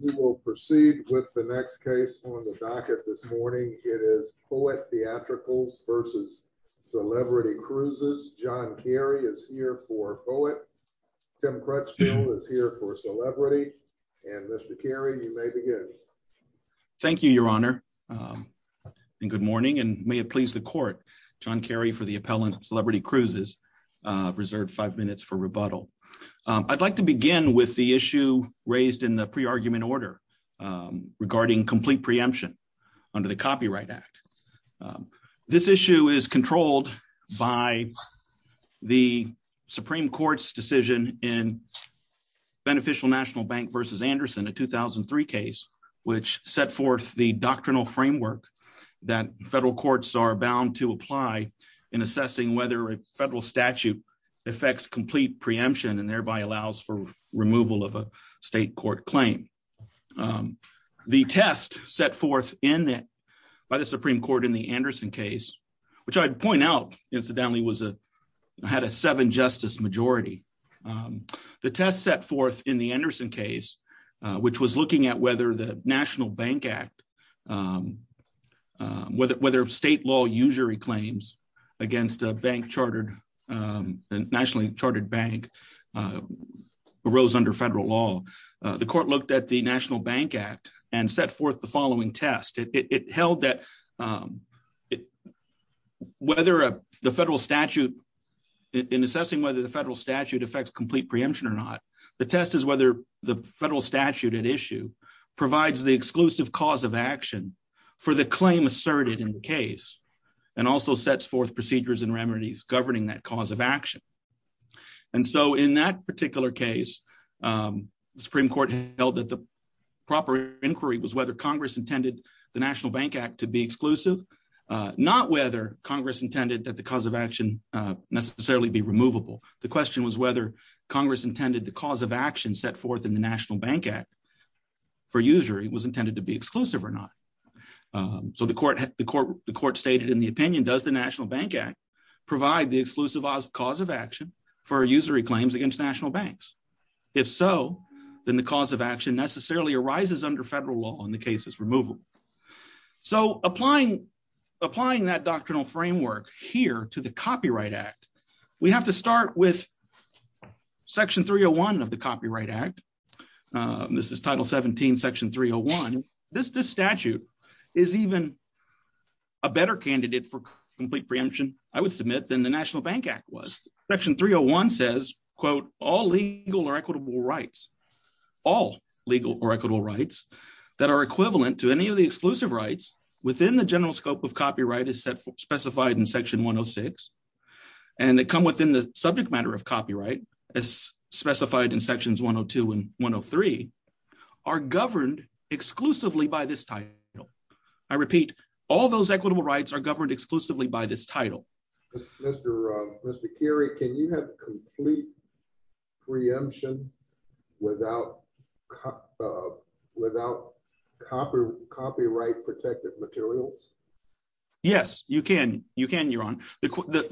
We will proceed with the next case on the docket this morning. It is Poet Theatricals v. Celebrity Cruises. John Carey is here for Poet. Tim Crutchfield is here for Celebrity. And Mr. Carey, you may begin. Thank you, Your Honor, and good morning, and may it please the Court, John Carey for the appellant, Celebrity Cruises, reserved five minutes for rebuttal. I'd like to begin with a pre-argument order regarding complete preemption under the Copyright Act. This issue is controlled by the Supreme Court's decision in Beneficial National Bank v. Anderson, a 2003 case, which set forth the doctrinal framework that federal courts are bound to apply in assessing whether a federal statute affects complete preemption and thereby allows for complete preemption. The test set forth by the Supreme Court in the Anderson case, which I'd point out, incidentally, had a seven-justice majority. The test set forth in the Anderson case, which was looking at whether the National Bank Act, whether state law usury claims against a nationally chartered bank arose under federal law. The court looked at the National Bank Act and set forth the following test. It held that whether the federal statute, in assessing whether the federal statute affects complete preemption or not, the test is whether the federal statute at issue provides the exclusive cause of action for the claim asserted in the case and also sets forth procedures and remedies governing that cause of action. In that particular case, the Supreme Court held that the proper inquiry was whether Congress intended the National Bank Act to be exclusive, not whether Congress intended that the cause of action necessarily be removable. The question was whether Congress intended the cause of action set forth in the National Bank Act for usury was intended to be exclusive or not. The court stated in the opinion, does the National Bank Act provide the exclusive cause of action for usury claims against national banks? If so, then the cause of action necessarily arises under federal law in the case's removal. So applying that doctrinal framework here to the Copyright Act, we have to start with Section 301 of the Copyright Act. This is Title 17, Section 301. This statute is even a better candidate for complete preemption, I would submit, than the National Bank Act was. Section 301 says, quote, all legal or equitable rights, all legal or equitable rights that are equivalent to any of the exclusive rights within the general scope of copyright as set for specified in Section 106 and that come within the subject matter of copyright as specified in Sections 102 and 103, are governed exclusively by this title. I repeat, all those equitable rights are governed exclusively by this title. Mr. Kerry, can you have complete preemption without copyright-protected materials? Yes, you can, you can, Your Honor. Is there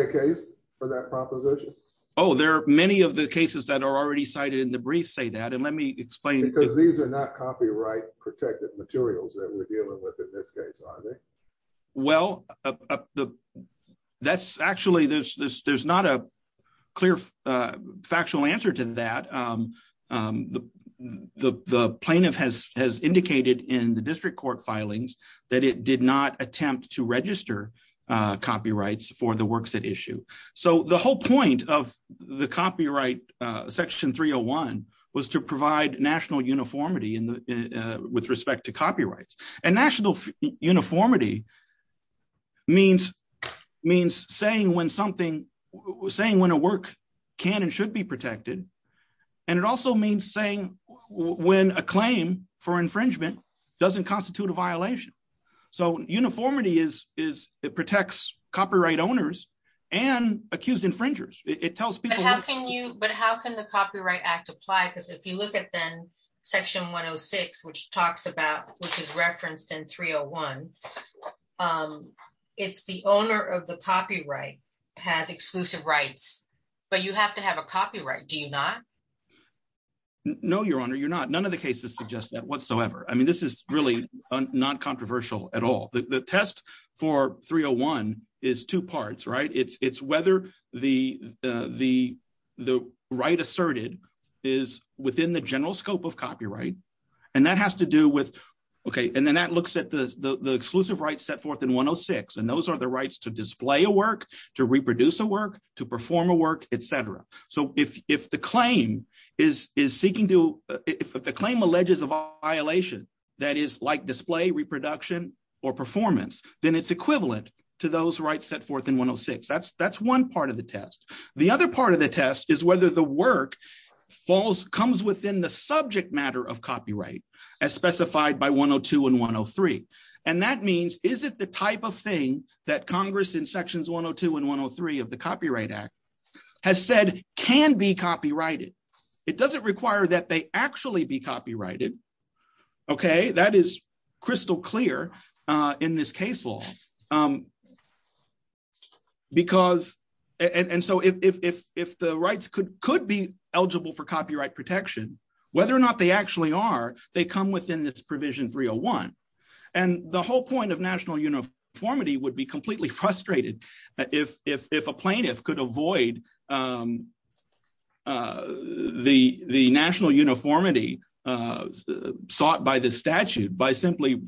a case for that proposition? Oh, there are many of the cases that are already cited in the brief say that, and let me explain. Because these are not copyright-protected materials that we're dealing with in this case, are they? Well, that's actually, there's not a clear factual answer to that. The plaintiff has indicated in the district court filings that it did not attempt to register copyrights for the of the copyright Section 301 was to provide national uniformity with respect to copyrights. And national uniformity means saying when something, saying when a work can and should be protected, and it also means saying when a claim for infringement doesn't constitute a violation. So uniformity protects copyright owners and accused infringers. But how can the Copyright Act apply? Because if you look at then Section 106, which talks about, which is referenced in 301, it's the owner of the copyright has exclusive rights, but you have to have a copyright, do you not? No, Your Honor, you're not. None of the cases suggest that whatsoever. I mean, this is really not controversial at all. The test for 301 is two parts, right? It's whether the right asserted is within the general scope of copyright. And that has to do with, okay, and then that looks at the exclusive rights set forth in 106. And those are the rights to display a work, to reproduce a work, to perform a work, etc. So if the claim is seeking to, if the claim alleges a violation, that is like display, reproduction, or performance, then it's equivalent to those rights set forth in 106. That's one part of the test. The other part of the test is whether the work comes within the subject matter of copyright, as specified by 102 and 103. And that means, is it the type of thing that Congress in Sections 102 and 103 of the Copyright Act would actually be copyrighted? Okay, that is crystal clear in this case law. Because, and so if the rights could be eligible for copyright protection, whether or not they actually are, they come within this provision 301. And the whole point of national uniformity would be completely frustrated if a plaintiff could avoid the national uniformity sought by the statute by simply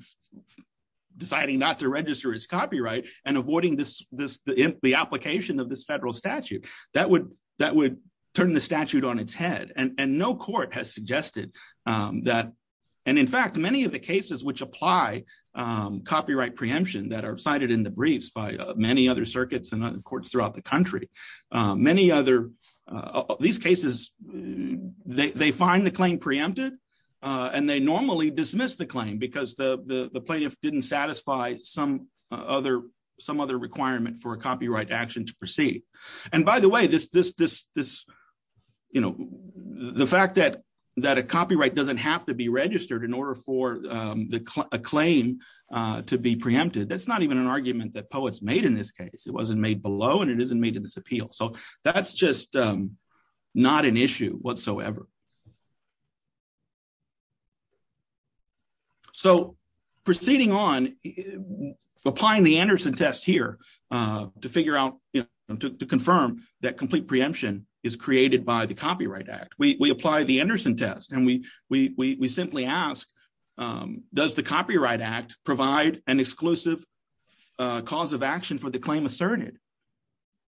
deciding not to register as copyright and avoiding the application of this federal statute. That would turn the statute on its head. And no court has suggested that. And in fact, many of the cases which apply copyright preemption that are cited in the briefs by many other circuits and courts throughout the country, many other, these cases, they find the claim preempted, and they normally dismiss the claim because the plaintiff didn't satisfy some other requirement for a copyright action to proceed. And by the way, this, you know, the fact that a copyright doesn't have to be registered in order for a claim to be preempted, that's not even an argument that Poets made in this case. It wasn't made below, and it isn't made in this appeal. So that's just not an issue whatsoever. So proceeding on, applying the Anderson test here to figure out, you know, to confirm that we apply the Anderson test, and we simply ask, does the Copyright Act provide an exclusive cause of action for the claim asserted?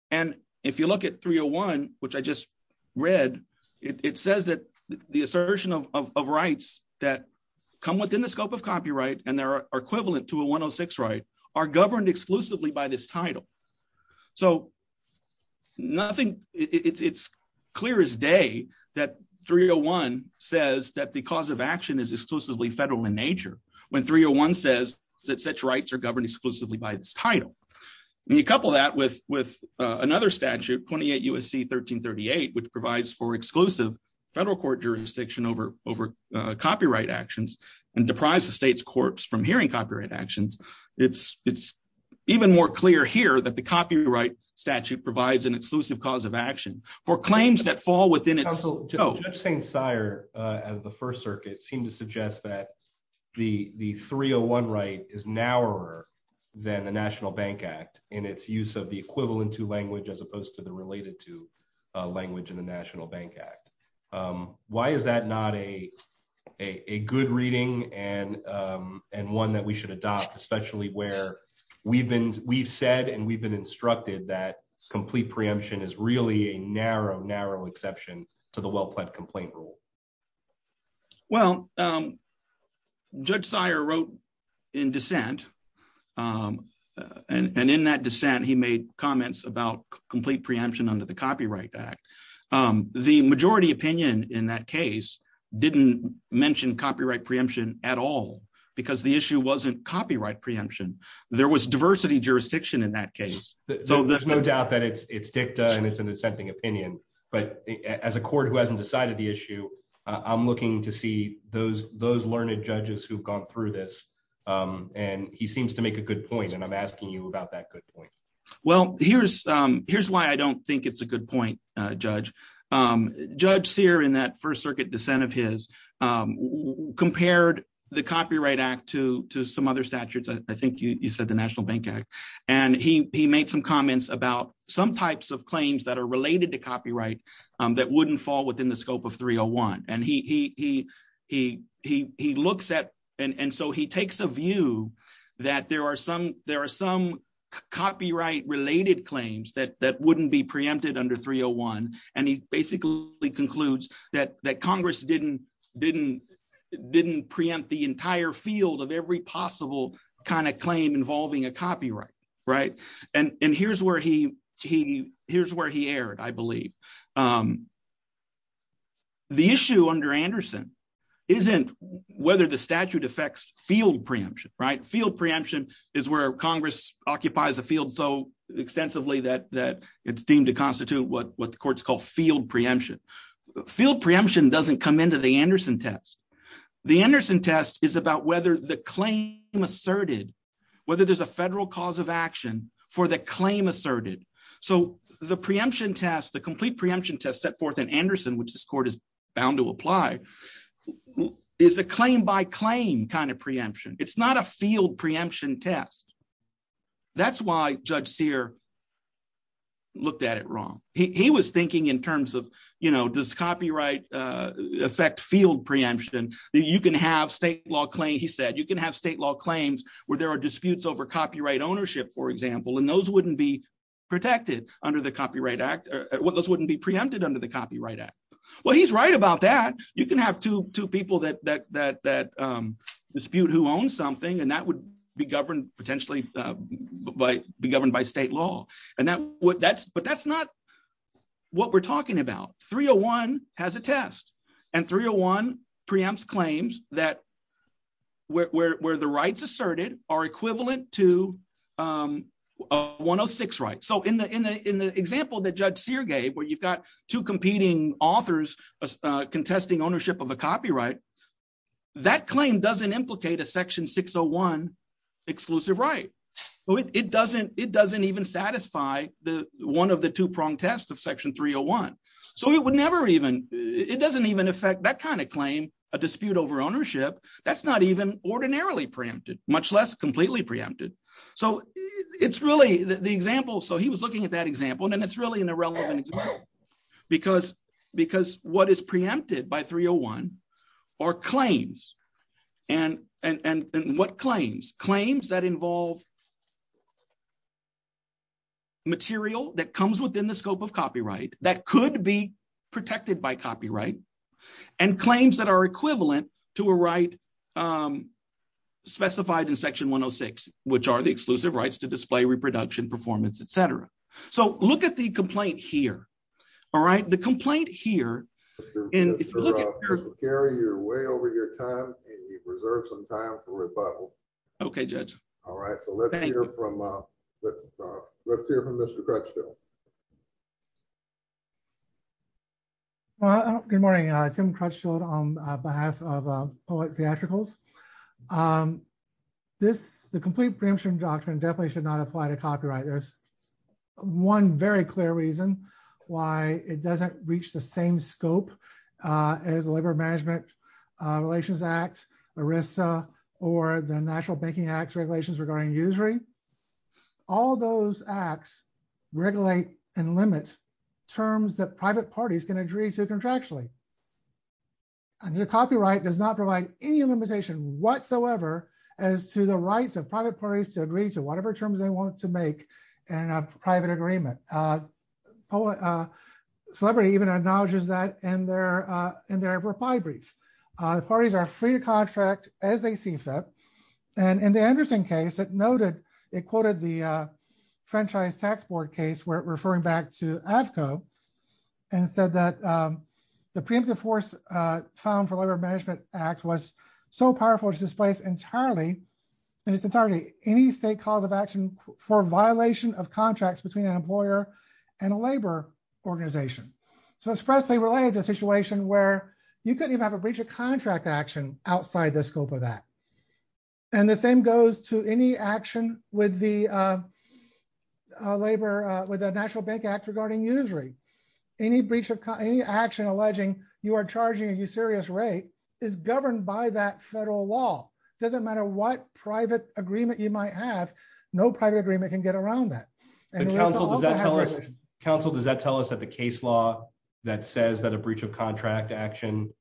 And if you look at 301, which I just read, it says that the assertion of rights that come within the scope of copyright, and there are equivalent to a 106 are governed exclusively by this title. So nothing, it's clear as day that 301 says that the cause of action is exclusively federal in nature, when 301 says that such rights are governed exclusively by this title. And you couple that with another statute, 28 U.S.C. 1338, which provides for exclusive federal court jurisdiction over copyright actions, and deprives the state's hearing copyright actions. It's even more clear here that the copyright statute provides an exclusive cause of action for claims that fall within its scope. Judge St. Cyr of the First Circuit seemed to suggest that the 301 right is narrower than the National Bank Act in its use of the equivalent to language as opposed to the related to language in the National Bank Act. Why is that not a good reading and one that we should adopt, especially where we've said and we've been instructed that complete preemption is really a narrow, narrow exception to the well-planned complaint rule? Well, Judge St. Cyr wrote in dissent, and in that dissent, he made comments about complete preemption under the Copyright Act. The majority opinion in that case didn't mention copyright preemption at all, because the issue wasn't copyright preemption. There was diversity jurisdiction in that case. There's no doubt that it's dicta and it's an dissenting opinion. But as a court who hasn't decided the issue, I'm looking to see those learned judges who've gone through this. And he seems to make a good point. And I'm asking you about that good point. Well, here's why I don't think it's a good point, Judge. Judge Cyr, in that First Circuit dissent of his, compared the Copyright Act to some other statutes. I think you said the National Bank Act. And he made some comments about some types of claims that are related to copyright that wouldn't fall within the scope of 301. And so he takes a view that there are some copyright-related claims that wouldn't be preempted under 301. And he basically concludes that Congress didn't preempt the entire field of every possible kind of claim involving a copyright. And here's where he erred, I believe. The issue under Anderson isn't whether the field occupies a field so extensively that it's deemed to constitute what the courts call field preemption. Field preemption doesn't come into the Anderson test. The Anderson test is about whether the claim asserted, whether there's a federal cause of action for the claim asserted. So the preemption test, the complete preemption test set forth in Anderson, which this court is bound to apply, is a claim by claim kind of preemption. It's not a field preemption test. That's why Judge Sear looked at it wrong. He was thinking in terms of, you know, does copyright affect field preemption? You can have state law claim, he said, you can have state law claims where there are disputes over copyright ownership, for example, and those wouldn't be protected under the Copyright Act, or those wouldn't be preempted under the Copyright Act. Well, he's right about that. You can have two people that dispute who owns something, and that would be governed potentially by be governed by state law. But that's not what we're talking about. 301 has a test, and 301 preempts claims where the rights asserted are equivalent to 106 rights. So in the example that Judge Sear gave, where you've got two competing authors contesting ownership of a copyright, that claim doesn't implicate a 601 exclusive right. It doesn't even satisfy one of the two-pronged tests of Section 301. So it would never even, it doesn't even affect that kind of claim, a dispute over ownership. That's not even ordinarily preempted, much less completely preempted. So it's really the example, so he was looking at that example, and it's really an irrelevant example. Because what is preempted by 301 are claims. And what claims? Claims that involve material that comes within the scope of copyright, that could be protected by copyright, and claims that are equivalent to a right specified in Section 106, which are the exclusive rights to display, reproduction, performance, et cetera. So look at the complaint here, all right? The complaint here, and if you look at- Mr. Ruff, you're way over your time, and you've reserved some time for rebuttal. Okay, Judge. All right, so let's hear from Mr. Crutchfield. Well, good morning. Tim Crutchfield on behalf of Poet Theatricals. The complete preemption doctrine definitely should not apply to copyright. There's one very clear reason why it doesn't reach the same scope as the Labor Management Relations Act, ERISA, or the National Banking Act's regulations regarding usury. All those acts regulate and limit terms that private parties can agree to contractually. And your copyright does not any limitation whatsoever as to the rights of private parties to agree to whatever terms they want to make in a private agreement. Celebrity even acknowledges that in their reply brief. The parties are free to contract as they see fit. And in the Anderson case, it noted, it quoted the Franchise Tax Board case, referring back to AFCO, and said that the preemptive force found for Labor Management Act was so powerful to displace entirely, and it's entirely, any state cause of action for violation of contracts between an employer and a labor organization. So expressly related to a situation where you couldn't even have a breach of contract action outside the scope of that. And the same goes to any action with the labor, with the National Bank Act regarding usury. Any breach of, any action alleging you are charging a usurious rate is governed by that federal law. It doesn't matter what private agreement you might have, no private agreement can get around that. Counsel, does that tell us that the case law that says that a breach of contract action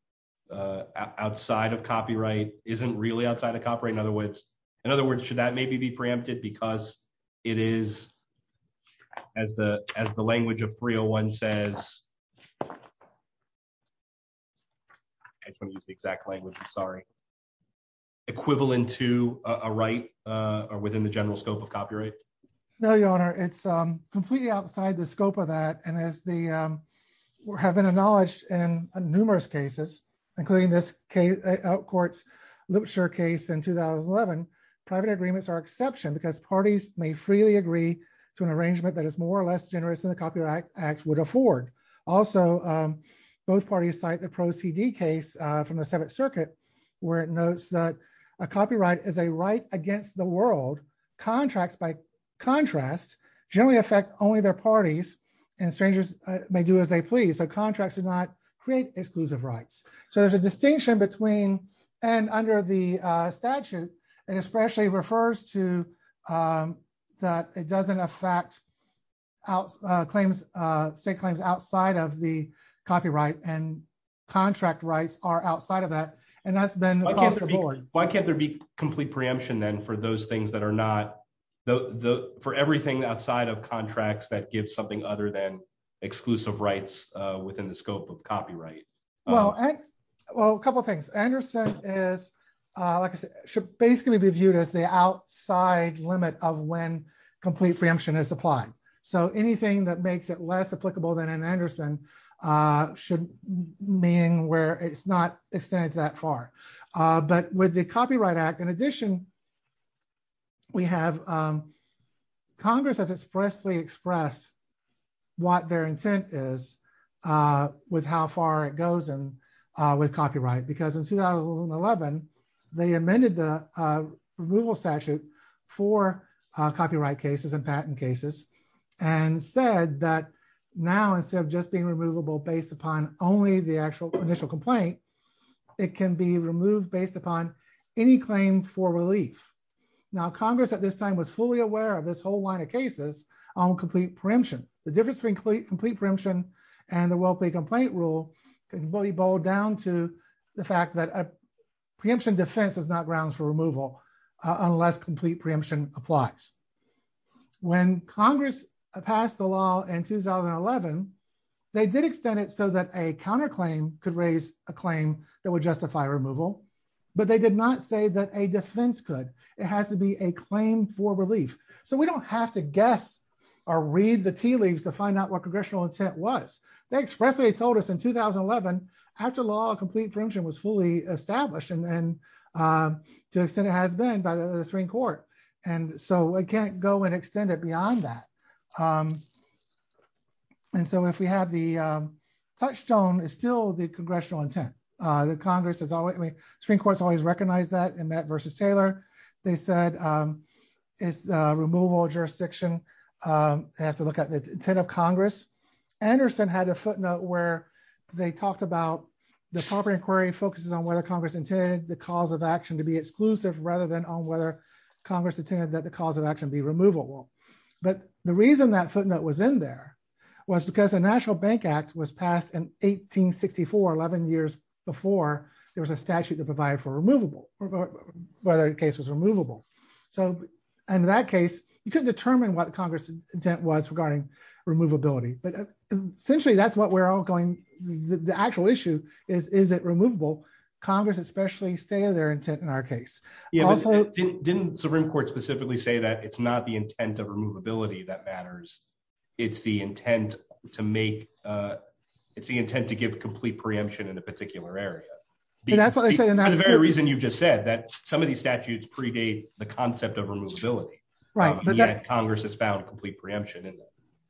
outside of copyright isn't really outside of copyright? In other words, in other words, should that maybe be preempted because it is, as the language of 301 says, I just want to use the exact language, I'm sorry. Equivalent to a right or within the general scope of copyright? No, Your Honor, it's completely outside the scope of that. And as the, we're having acknowledged in numerous cases, including this out courts, Lipschitz case in 2011, private agreements are exception because parties may freely agree to an arrangement that is more or less generous than the Copyright Act would afford. Also, both parties cite the Pro-CD case from the Seventh Circuit, where it notes that a copyright is a right against the world. Contracts, by contrast, generally affect only their parties, and strangers may do as they please. So contracts do not create exclusive rights. So there's a distinction between, and under the statute, it especially refers to that it doesn't affect out claims, state claims outside of the copyright and contract rights are outside of that. And that's been, why can't there be complete preemption then for those things that are not the for everything outside of contracts that give something other than exclusive rights within the scope of copyright? Well, a couple of things. Anderson is, like I said, should basically be viewed as the outside limit of when complete preemption is applied. So anything that makes it less applicable than an Anderson should mean where it's not extended that far. But with the Copyright Act, in addition, we have, Congress has expressly expressed what their intent is with how far it goes in with copyright, because in 2011, they amended the removal statute for copyright cases and patent cases, and said that now instead of just being removable based upon only the actual initial complaint, it can be removed based upon any claim for relief. Now, Congress at this time was fully aware of this whole line of cases on complete preemption. The difference between complete preemption and the well-paid complaint rule can really boil down to the fact that a preemption defense is not grounds for removal, unless complete preemption applies. When Congress passed the law in 2011, they did extend it so that a counterclaim could raise a claim that would justify removal. But they did not say that a defense could, it has to be a claim for relief. So we don't have to guess or read the tea leaves to find out what congressional intent was. They expressly told us in 2011, after law, complete preemption was fully established, and to an extent it has been by the Supreme Court. And so it can't go and extend it beyond that. And so if we have the touchstone, it's still the congressional intent. The Congress has always, Supreme Court's always recognized that in that versus Taylor. They said, it's the removal of jurisdiction. They have to look at the intent of Congress. Anderson had a footnote where they talked about the proper inquiry focuses on whether Congress intended the cause of action to be exclusive rather than on whether Congress intended that the cause of action be removable. But the reason that footnote was in there was because the National Bank Act was passed in 1864, 11 years before there was a statute to provide for removable, whether the case was removable. So in that case, you couldn't determine what Congress intent was regarding removability, but essentially that's what we're all going. The actual issue is, is it removable Congress, especially stay their intent in our case. Didn't Supreme Court specifically say that it's not the intent of removability that matters. It's the intent to make, it's the intent to give complete preemption in a particular area. That's what they say. And that's the very reason you've just said that some of these statutes predate the concept of removability, right? Congress has found complete preemption.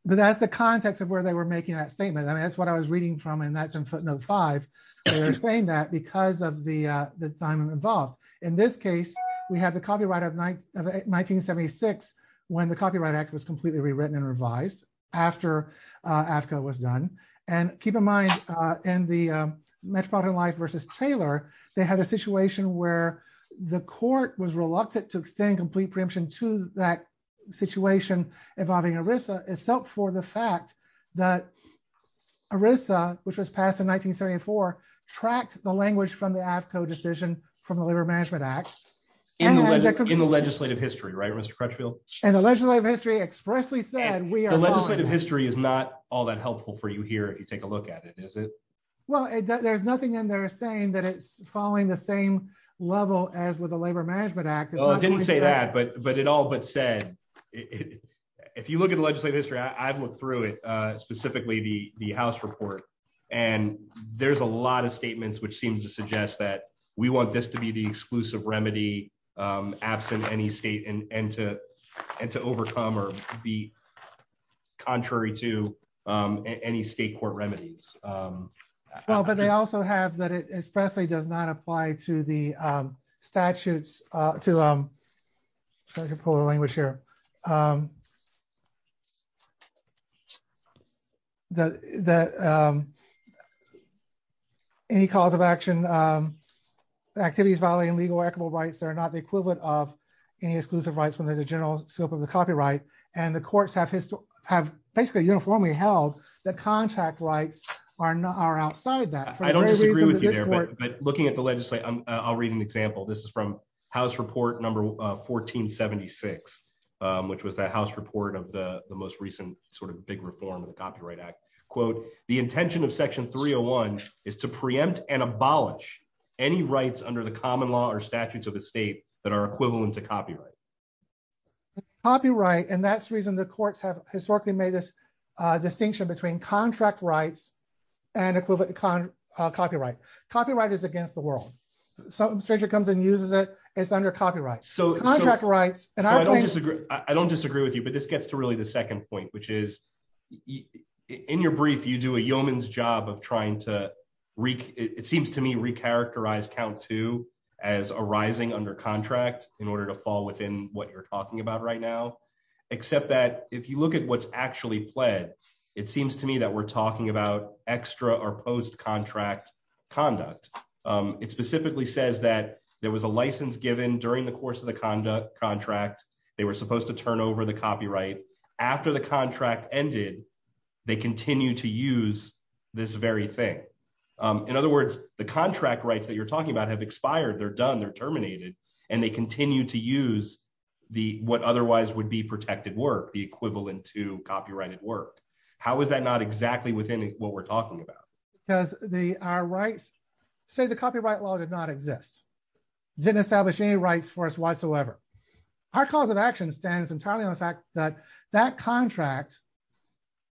But that's the context of where they were making that statement. I mean, that's what I was reading from. And that's in footnote five, explain that because of the, the time involved in this case, we have the copyright of 1976, when the Copyright Act was completely rewritten and revised after AAFCO was done. And keep in mind, in the Metropolitan Life versus Taylor, they had a situation where the court was reluctant to extend complete preemption to that situation involving ERISA except for the fact that ERISA, which was passed in 1974, tracked the language from the AAFCO decision from the Labor Management Act. In the legislative history, right, Mr. Crutchfield? And the legislative history expressly said we are- The legislative history is not all that helpful for you here if you take a look at it, is it? Well, there's nothing in there saying that it's falling the same level as with the Labor Management Act. Well, it didn't say that, but it all but said, if you look at the legislative history, I've looked through it, specifically the House report. And there's a lot of statements which seems to suggest that we want this to be the exclusive remedy absent any state and to overcome or be contrary to any state court remedies. Well, but they also have that it expressly does not apply to the statutes to- Sorry to pull the language here. Any cause of action, activities violating legal or equitable rights, they're not the equivalent of any exclusive rights when there's a general scope of the copyright. And the courts have basically uniformly held that contract rights are outside that. I don't disagree with you there, but looking at the legislature, I'll read an example. This is House Report No. 1476, which was the House report of the most recent sort of big reform of the Copyright Act. Quote, the intention of Section 301 is to preempt and abolish any rights under the common law or statutes of the state that are equivalent to copyright. Copyright, and that's the reason the courts have historically made this distinction between contract rights and equivalent copyright. Copyright is against the world. Some stranger comes and uses it. It's under copyright. Contract rights- I don't disagree with you, but this gets to really the second point, which is in your brief, you do a yeoman's job of trying to, it seems to me, recharacterize count two as arising under contract in order to fall within what you're talking about right now, except that if you look at what's actually pled, it seems to me that we're talking about extra or post-contract conduct. It specifically says that there was a license given during the course of the contract. They were supposed to turn over the copyright. After the contract ended, they continue to use this very thing. In other words, the contract rights that you're talking about have expired. They're done. They're terminated, and they continue to use what otherwise would be protected work, the equivalent to copyrighted work. How is that not exactly within what we're talking about? Because our rights- say the copyright law did not exist. It didn't establish any rights for us whatsoever. Our cause of action stands entirely on the fact that that contract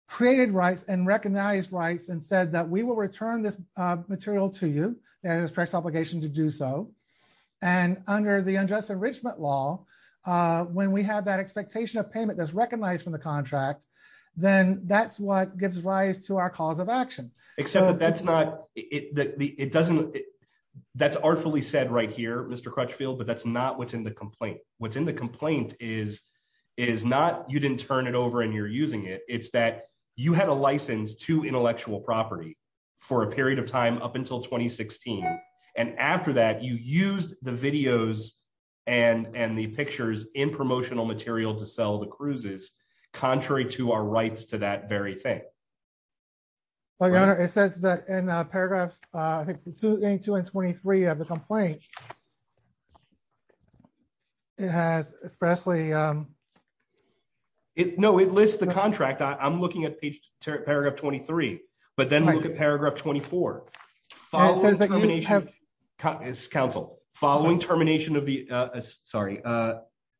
created rights and recognized rights and said that we will return this material to you, and it's the correct obligation to do so. Under the unjust enrichment law, when we have that expectation of payment that's recognized from the contract, then that's what gives rise to our cause of action. That's artfully said right here, Mr. Crutchfield, but that's not what's in the complaint. What's in the complaint is not you didn't turn it over and you're using it. It's that you had a license to intellectual property for a period of time up until 2016. After that, you used the videos and the pictures in promotional material to sell the cruises, contrary to our rights to that very thing. Well, Your Honor, it says that in paragraph, I think, 22 and 23 of the complaint, it has expressly- No, it lists the contract. I'm looking at paragraph 23, but then look at paragraph 24. It says that you have- Counsel, following termination of the- Sorry.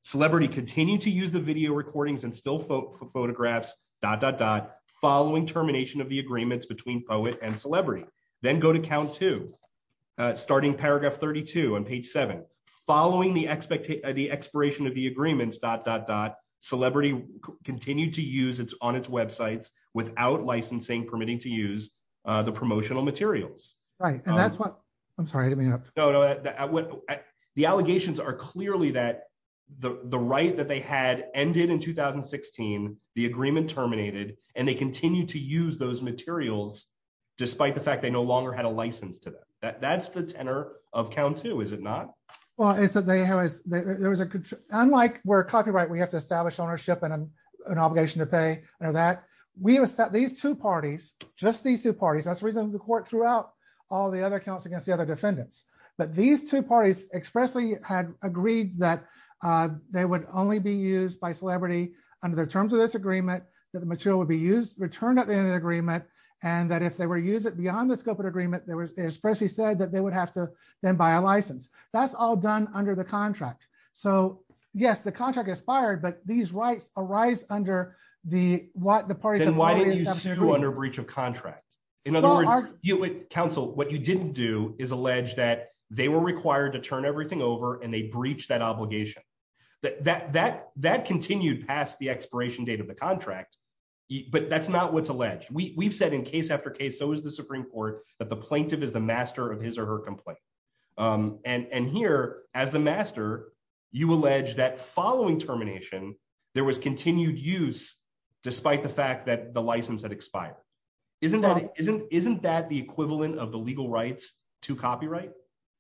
Celebrity continued to use the video recordings and still photographs, dot, dot, dot, following termination of the agreements between POET and Celebrity. Then go to count two, starting paragraph 32 on page seven. Following the expiration of the agreements, dot, dot, dot, Celebrity continued to use on its websites without licensing permitting to use the promotional materials. Right. And that's what- I'm sorry. I didn't mean to interrupt. No, no. The allegations are clearly that the right that they had ended in 2016, the agreement terminated, and they continue to use those materials despite the fact they no longer had a license to them. That's the tenor of count two, is it not? Well, it's that there was a- Unlike where copyright, we have to establish ownership and an obligation to pay under that. We have established- These two parties, just these two parties, that's the reason the court threw out all the other counts against the other defendants. But these two parties expressly had agreed that they would only be used by Celebrity under the terms of this agreement, that the material would be returned at the end of the agreement, and that if they were to use it beyond the scope of the agreement, they expressly said that they would have to then buy a license. That's all done under the contract. So yes, contract expired, but these rights arise under the parties- Then why didn't you sue under breach of contract? In other words, counsel, what you didn't do is allege that they were required to turn everything over and they breached that obligation. That continued past the expiration date of the contract, but that's not what's alleged. We've said in case after case, so is the Supreme Court, that the plaintiff is the master of his or her termination, there was continued use despite the fact that the license had expired. Isn't that the equivalent of the legal rights to copyright?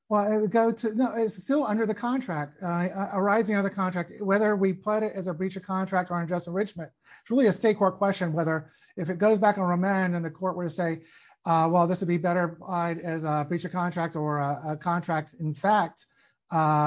Well, it would go to- No, it's still under the contract, arising under the contract, whether we plot it as a breach of contract or unjust enrichment. It's really a state court question whether if it goes back on remand and the court were to say, well, this would be better implied as a breach of contract or a contract implied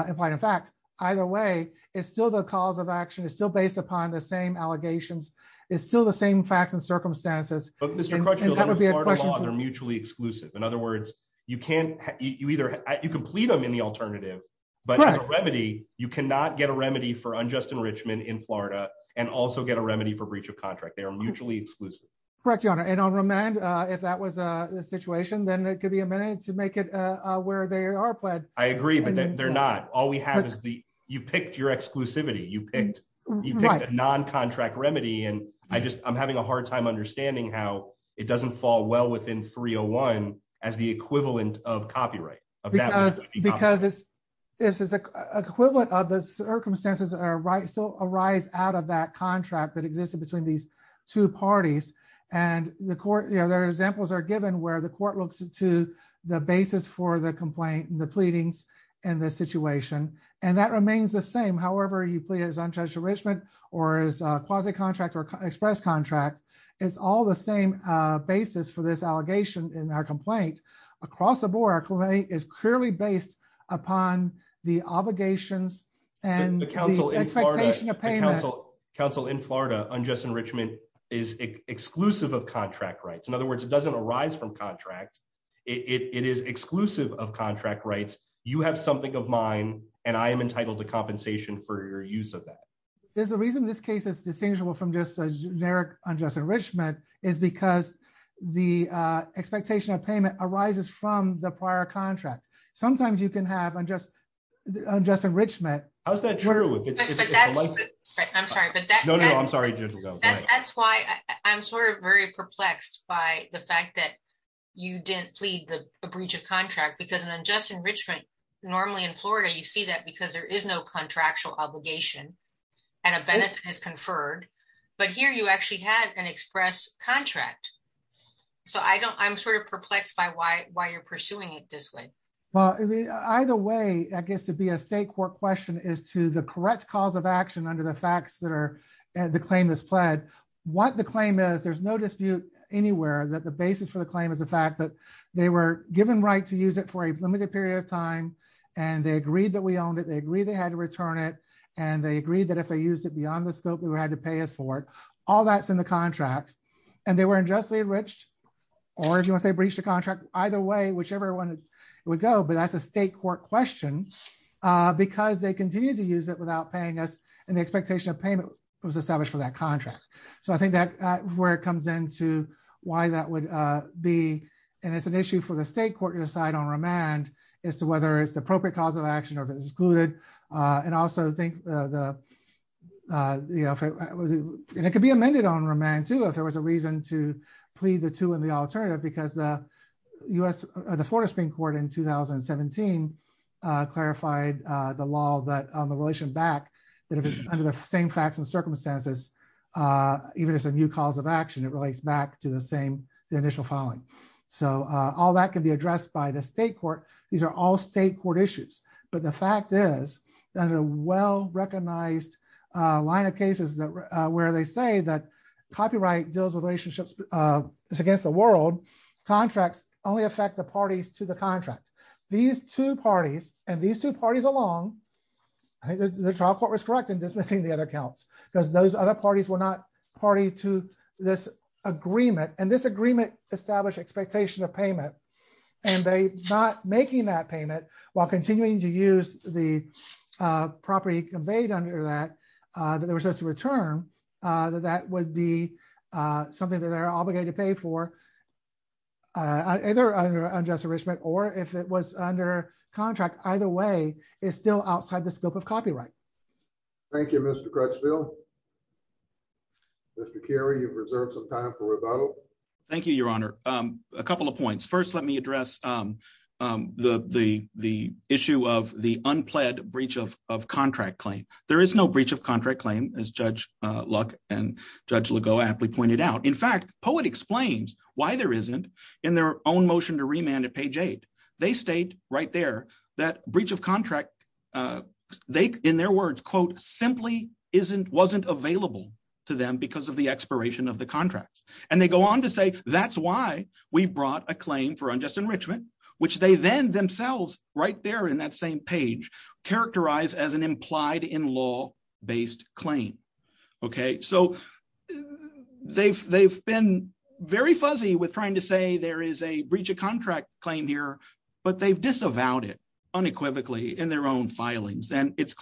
in fact. Either way, it's still the cause of action. It's still based upon the same allegations. It's still the same facts and circumstances. And that would be a question- But Mr. Crutchfield, in Florida law, they're mutually exclusive. In other words, you can plead them in the alternative, but as a remedy, you cannot get a remedy for unjust enrichment in Florida and also get a remedy for breach of contract. They are mutually exclusive. Correct, Your Honor. And on remand, if that was the situation, then it could be amended to make it where they are pled. I agree, but they're not. All we have is the... You picked your exclusivity. You picked a non-contract remedy. And I'm having a hard time understanding how it doesn't fall well within 301 as the equivalent of copyright. Because it's equivalent of the circumstances that still arise out of that contract that existed between these two parties. And the court... There are examples that are given where the court looks into the basis for the complaint and the pleadings and the situation. And that remains the same. However, you plead it as untouched enrichment or as a quasi-contract or express contract, it's all the same basis for this allegation in our complaint. Across the board, our complaint is clearly based upon the obligations and- Counsel, in Florida, unjust enrichment is exclusive of contract rights. In other words, it doesn't arise from contract. It is exclusive of contract rights. You have something of mine and I am entitled to compensation for your use of that. There's a reason this case is distinguishable from just a generic unjust enrichment is because the expectation of payment arises from the prior contract. Sometimes you can have unjust enrichment- How's that true? I'm sorry, but that- No, no, I'm sorry. That's why I'm sort of very perplexed by the fact that you didn't plead the breach of contract because an unjust enrichment, normally in Florida, you see that because there is no contractual obligation and a benefit is conferred. But here you actually had an express contract. So I'm sort of perplexed by why you're pursuing it this way. Either way, I guess to be a state court question is to the correct cause of action under the facts that the claim is pled. What the claim is, there's no dispute anywhere that the basis for the claim is the fact that they were given right to use it for a limited period of time and they agreed that we owned it. They agreed they had to return it and they agreed that if they used it beyond the scope, we had to pay us for it. All that's in the contract and they were unjustly enriched or if you want to say breach the contract, either way, whichever one would go, but that's a state court question because they continue to use it without paying us and the expectation of payment was established for that contract. So I think that's where it comes into why that would be. And it's an issue for the state court to decide on remand as to whether it's the appropriate cause of action or if it's excluded. And also think the, and it could be amended on remand too, if there was a reason to plead the two and the alternative, because the Florida Supreme Court in 2017 clarified the law that on the relation back, that if it's under the same facts and circumstances, even if it's a new cause of action, it relates back to the same, the initial filing. So all that can be addressed by the state court. These are all state court issues, but the fact is that a well-recognized line of cases that, where they say that copyright deals with relationships, it's against the world, contracts only affect the parties to the contract. These two parties and these two parties along, I think the trial court was correct in dismissing the other counts because those other parties were not party to this agreement and this agreement established expectation of payment and they not making that payment while continuing to use the property conveyed under that, that there was just a return, that that would be something that they're obligated to pay for either under unjust enrichment or if it was under contract, either way is still outside the scope of copyright. Thank you, Mr. Crutchfield. Mr. Carey, you've reserved some time for rebuttal. Thank you, your honor. A couple of points. First, let me address the issue of the unpledged breach of contract claim. There is no breach of contract claim as Judge Luck and Judge Legault aptly pointed out. In fact, Poet explains why there isn't in their own motion to remand at page eight. They state right there that breach of contract, they, in their words, quote, simply wasn't available to them because of the expiration of the contract. And they go on to say, that's why we've brought a claim for unjust enrichment, which they then themselves right there in that same page, characterize as an implied in law based claim. Okay. So they've, they've been very fuzzy with trying to say there is a breach of contract claim here, but they've disavowed it unequivocally in their own filings. And it's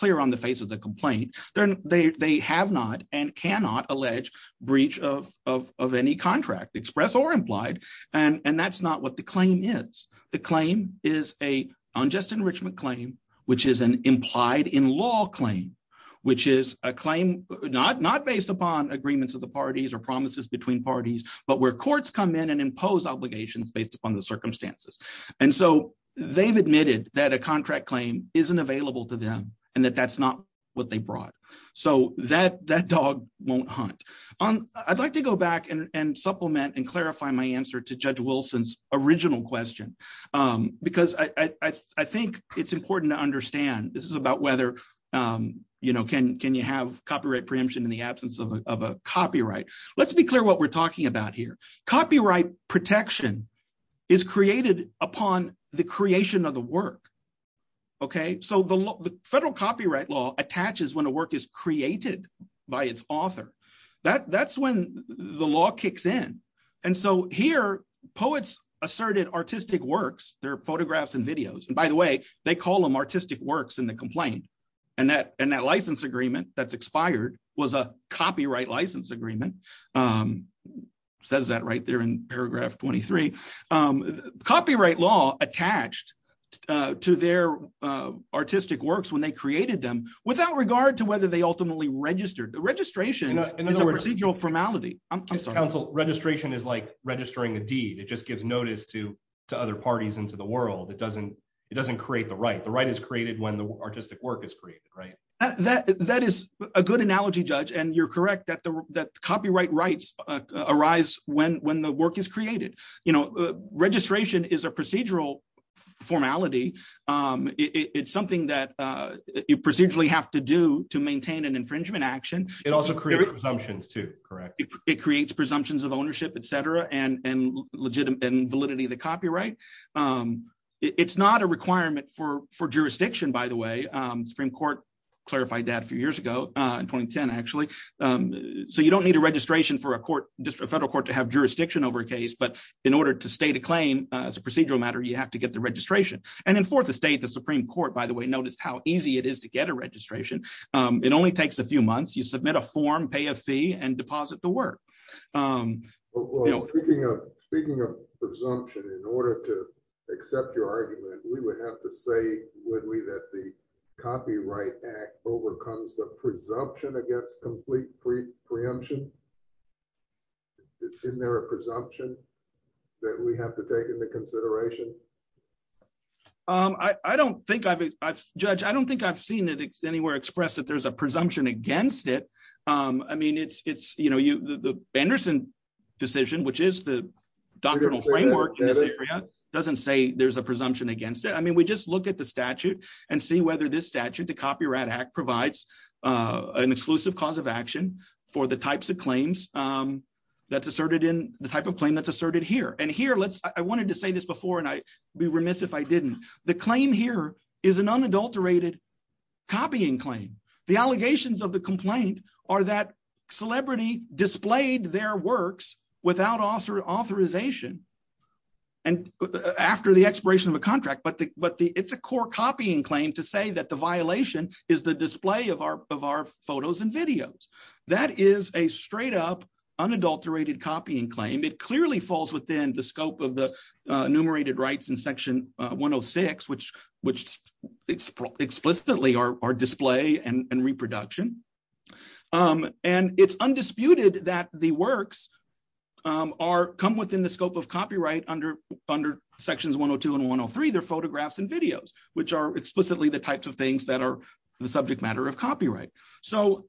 of any contract express or implied. And that's not what the claim is. The claim is a unjust enrichment claim, which is an implied in law claim, which is a claim not based upon agreements of the parties or promises between parties, but where courts come in and impose obligations based upon the circumstances. And so they've admitted that a contract claim isn't available to them and that that's not what they brought. So that, that dog won't hunt on. I'd like to go back and supplement and clarify my answer to judge Wilson's original question. Because I think it's important to understand this is about whether, you know, can, can you have copyright preemption in the absence of a copyright? Let's be clear what we're talking about here. Copyright protection is created upon the creation of the work. Okay. So the federal copyright law attaches when a work is created by its author, that that's when the law kicks in. And so here poets asserted artistic works, their photographs and videos, and by the way, they call them artistic works in the complaint. And that, and that license agreement that's expired was a copyright license agreement. Says that right there in paragraph 23, copyright law attached to their artistic works when they created them without regard to whether they ultimately registered the registration is a procedural formality. I'm sorry. Registration is like registering a deed. It just gives notice to other parties into the world. It doesn't, it doesn't create the right. The right is created when the artistic work is created. Right. That, that is a good analogy judge. And you're correct that the, that copyright rights arise when, when the work is created, you know, registration is a procedural formality. It's something that you procedurally have to do to maintain an infringement action. It also creates presumptions too, correct? It creates presumptions of ownership, et cetera, and, and legitimate and validity of the copyright. It's not a requirement for, for jurisdiction, by the way. Supreme court clarified that a few years ago in 2010, actually. So you don't need a registration for a court district, a federal court to have jurisdiction over a case, but in order to state a claim as a procedural matter, you have to get the registration. And in fourth estate, the Supreme court, by the way, noticed how easy it is to get a registration. It only takes a few months. You submit a form, pay a fee and deposit the work. Speaking of presumption, in order to say, would we, that the Copyright Act overcomes the presumption against complete preemption. Isn't there a presumption that we have to take into consideration? I, I don't think I've, I've, judge, I don't think I've seen it anywhere expressed that there's a presumption against it. I mean, it's, it's, you know, you, the, the Anderson decision, which is the framework in this area, doesn't say there's a presumption against it. I mean, we just look at the statute and see whether this statute, the Copyright Act provides an exclusive cause of action for the types of claims that's asserted in the type of claim that's asserted here. And here, let's, I wanted to say this before, and I be remiss if I didn't, the claim here is an unadulterated copying claim. The allegations of the complaint are that celebrity displayed their works without authorization, and after the expiration of a contract, but the, but the, it's a core copying claim to say that the violation is the display of our, of our photos and videos. That is a straight up unadulterated copying claim. It clearly falls within the scope of the enumerated rights in section 106, which, which explicitly are display and reproduction. And it's undisputed that the come within the scope of copyright under, under sections 102 and 103, they're photographs and videos, which are explicitly the types of things that are the subject matter of copyright. So,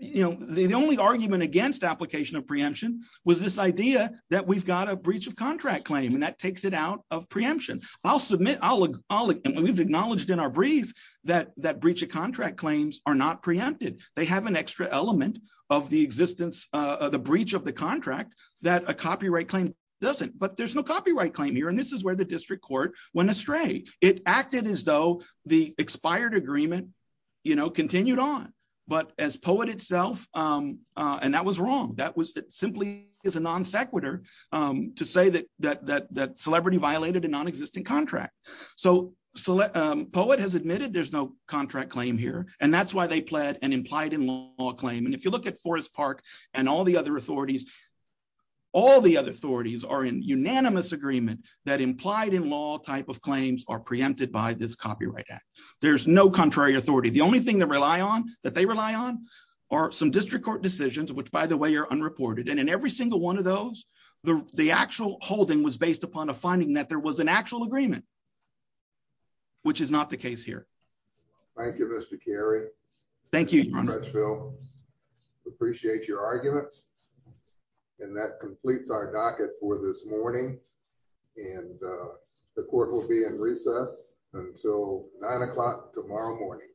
you know, the only argument against application of preemption was this idea that we've got a breach of contract claim, and that takes it out of preemption. I'll submit, I'll, I'll, and we've acknowledged in our brief that that breach of contract claims are not preempted. They have an extra element of the existence of the breach of the contract that a copyright claim doesn't, but there's no copyright claim here. And this is where the district court went astray. It acted as though the expired agreement, you know, continued on, but as POET itself, and that was wrong. That was simply is a non sequitur to say that, that, that, that celebrity violated a non-existent contract. So, so POET has admitted there's no contract claim here, and that's why they pled and implied in law claim. And if you look at Forest Park and all the other authorities, all the other authorities are in unanimous agreement that implied in law type of claims are preempted by this copyright act. There's no contrary authority. The only thing that rely on that they rely on are some district court decisions, which by the way, are unreported. And in every single one of those, the actual holding was based upon a finding that there was an actual agreement, which is not the case here. Thank you, Mr. Carey. Thank you. Appreciate your arguments. And that completes our docket for this morning. And the court will be in recess until nine o'clock tomorrow morning.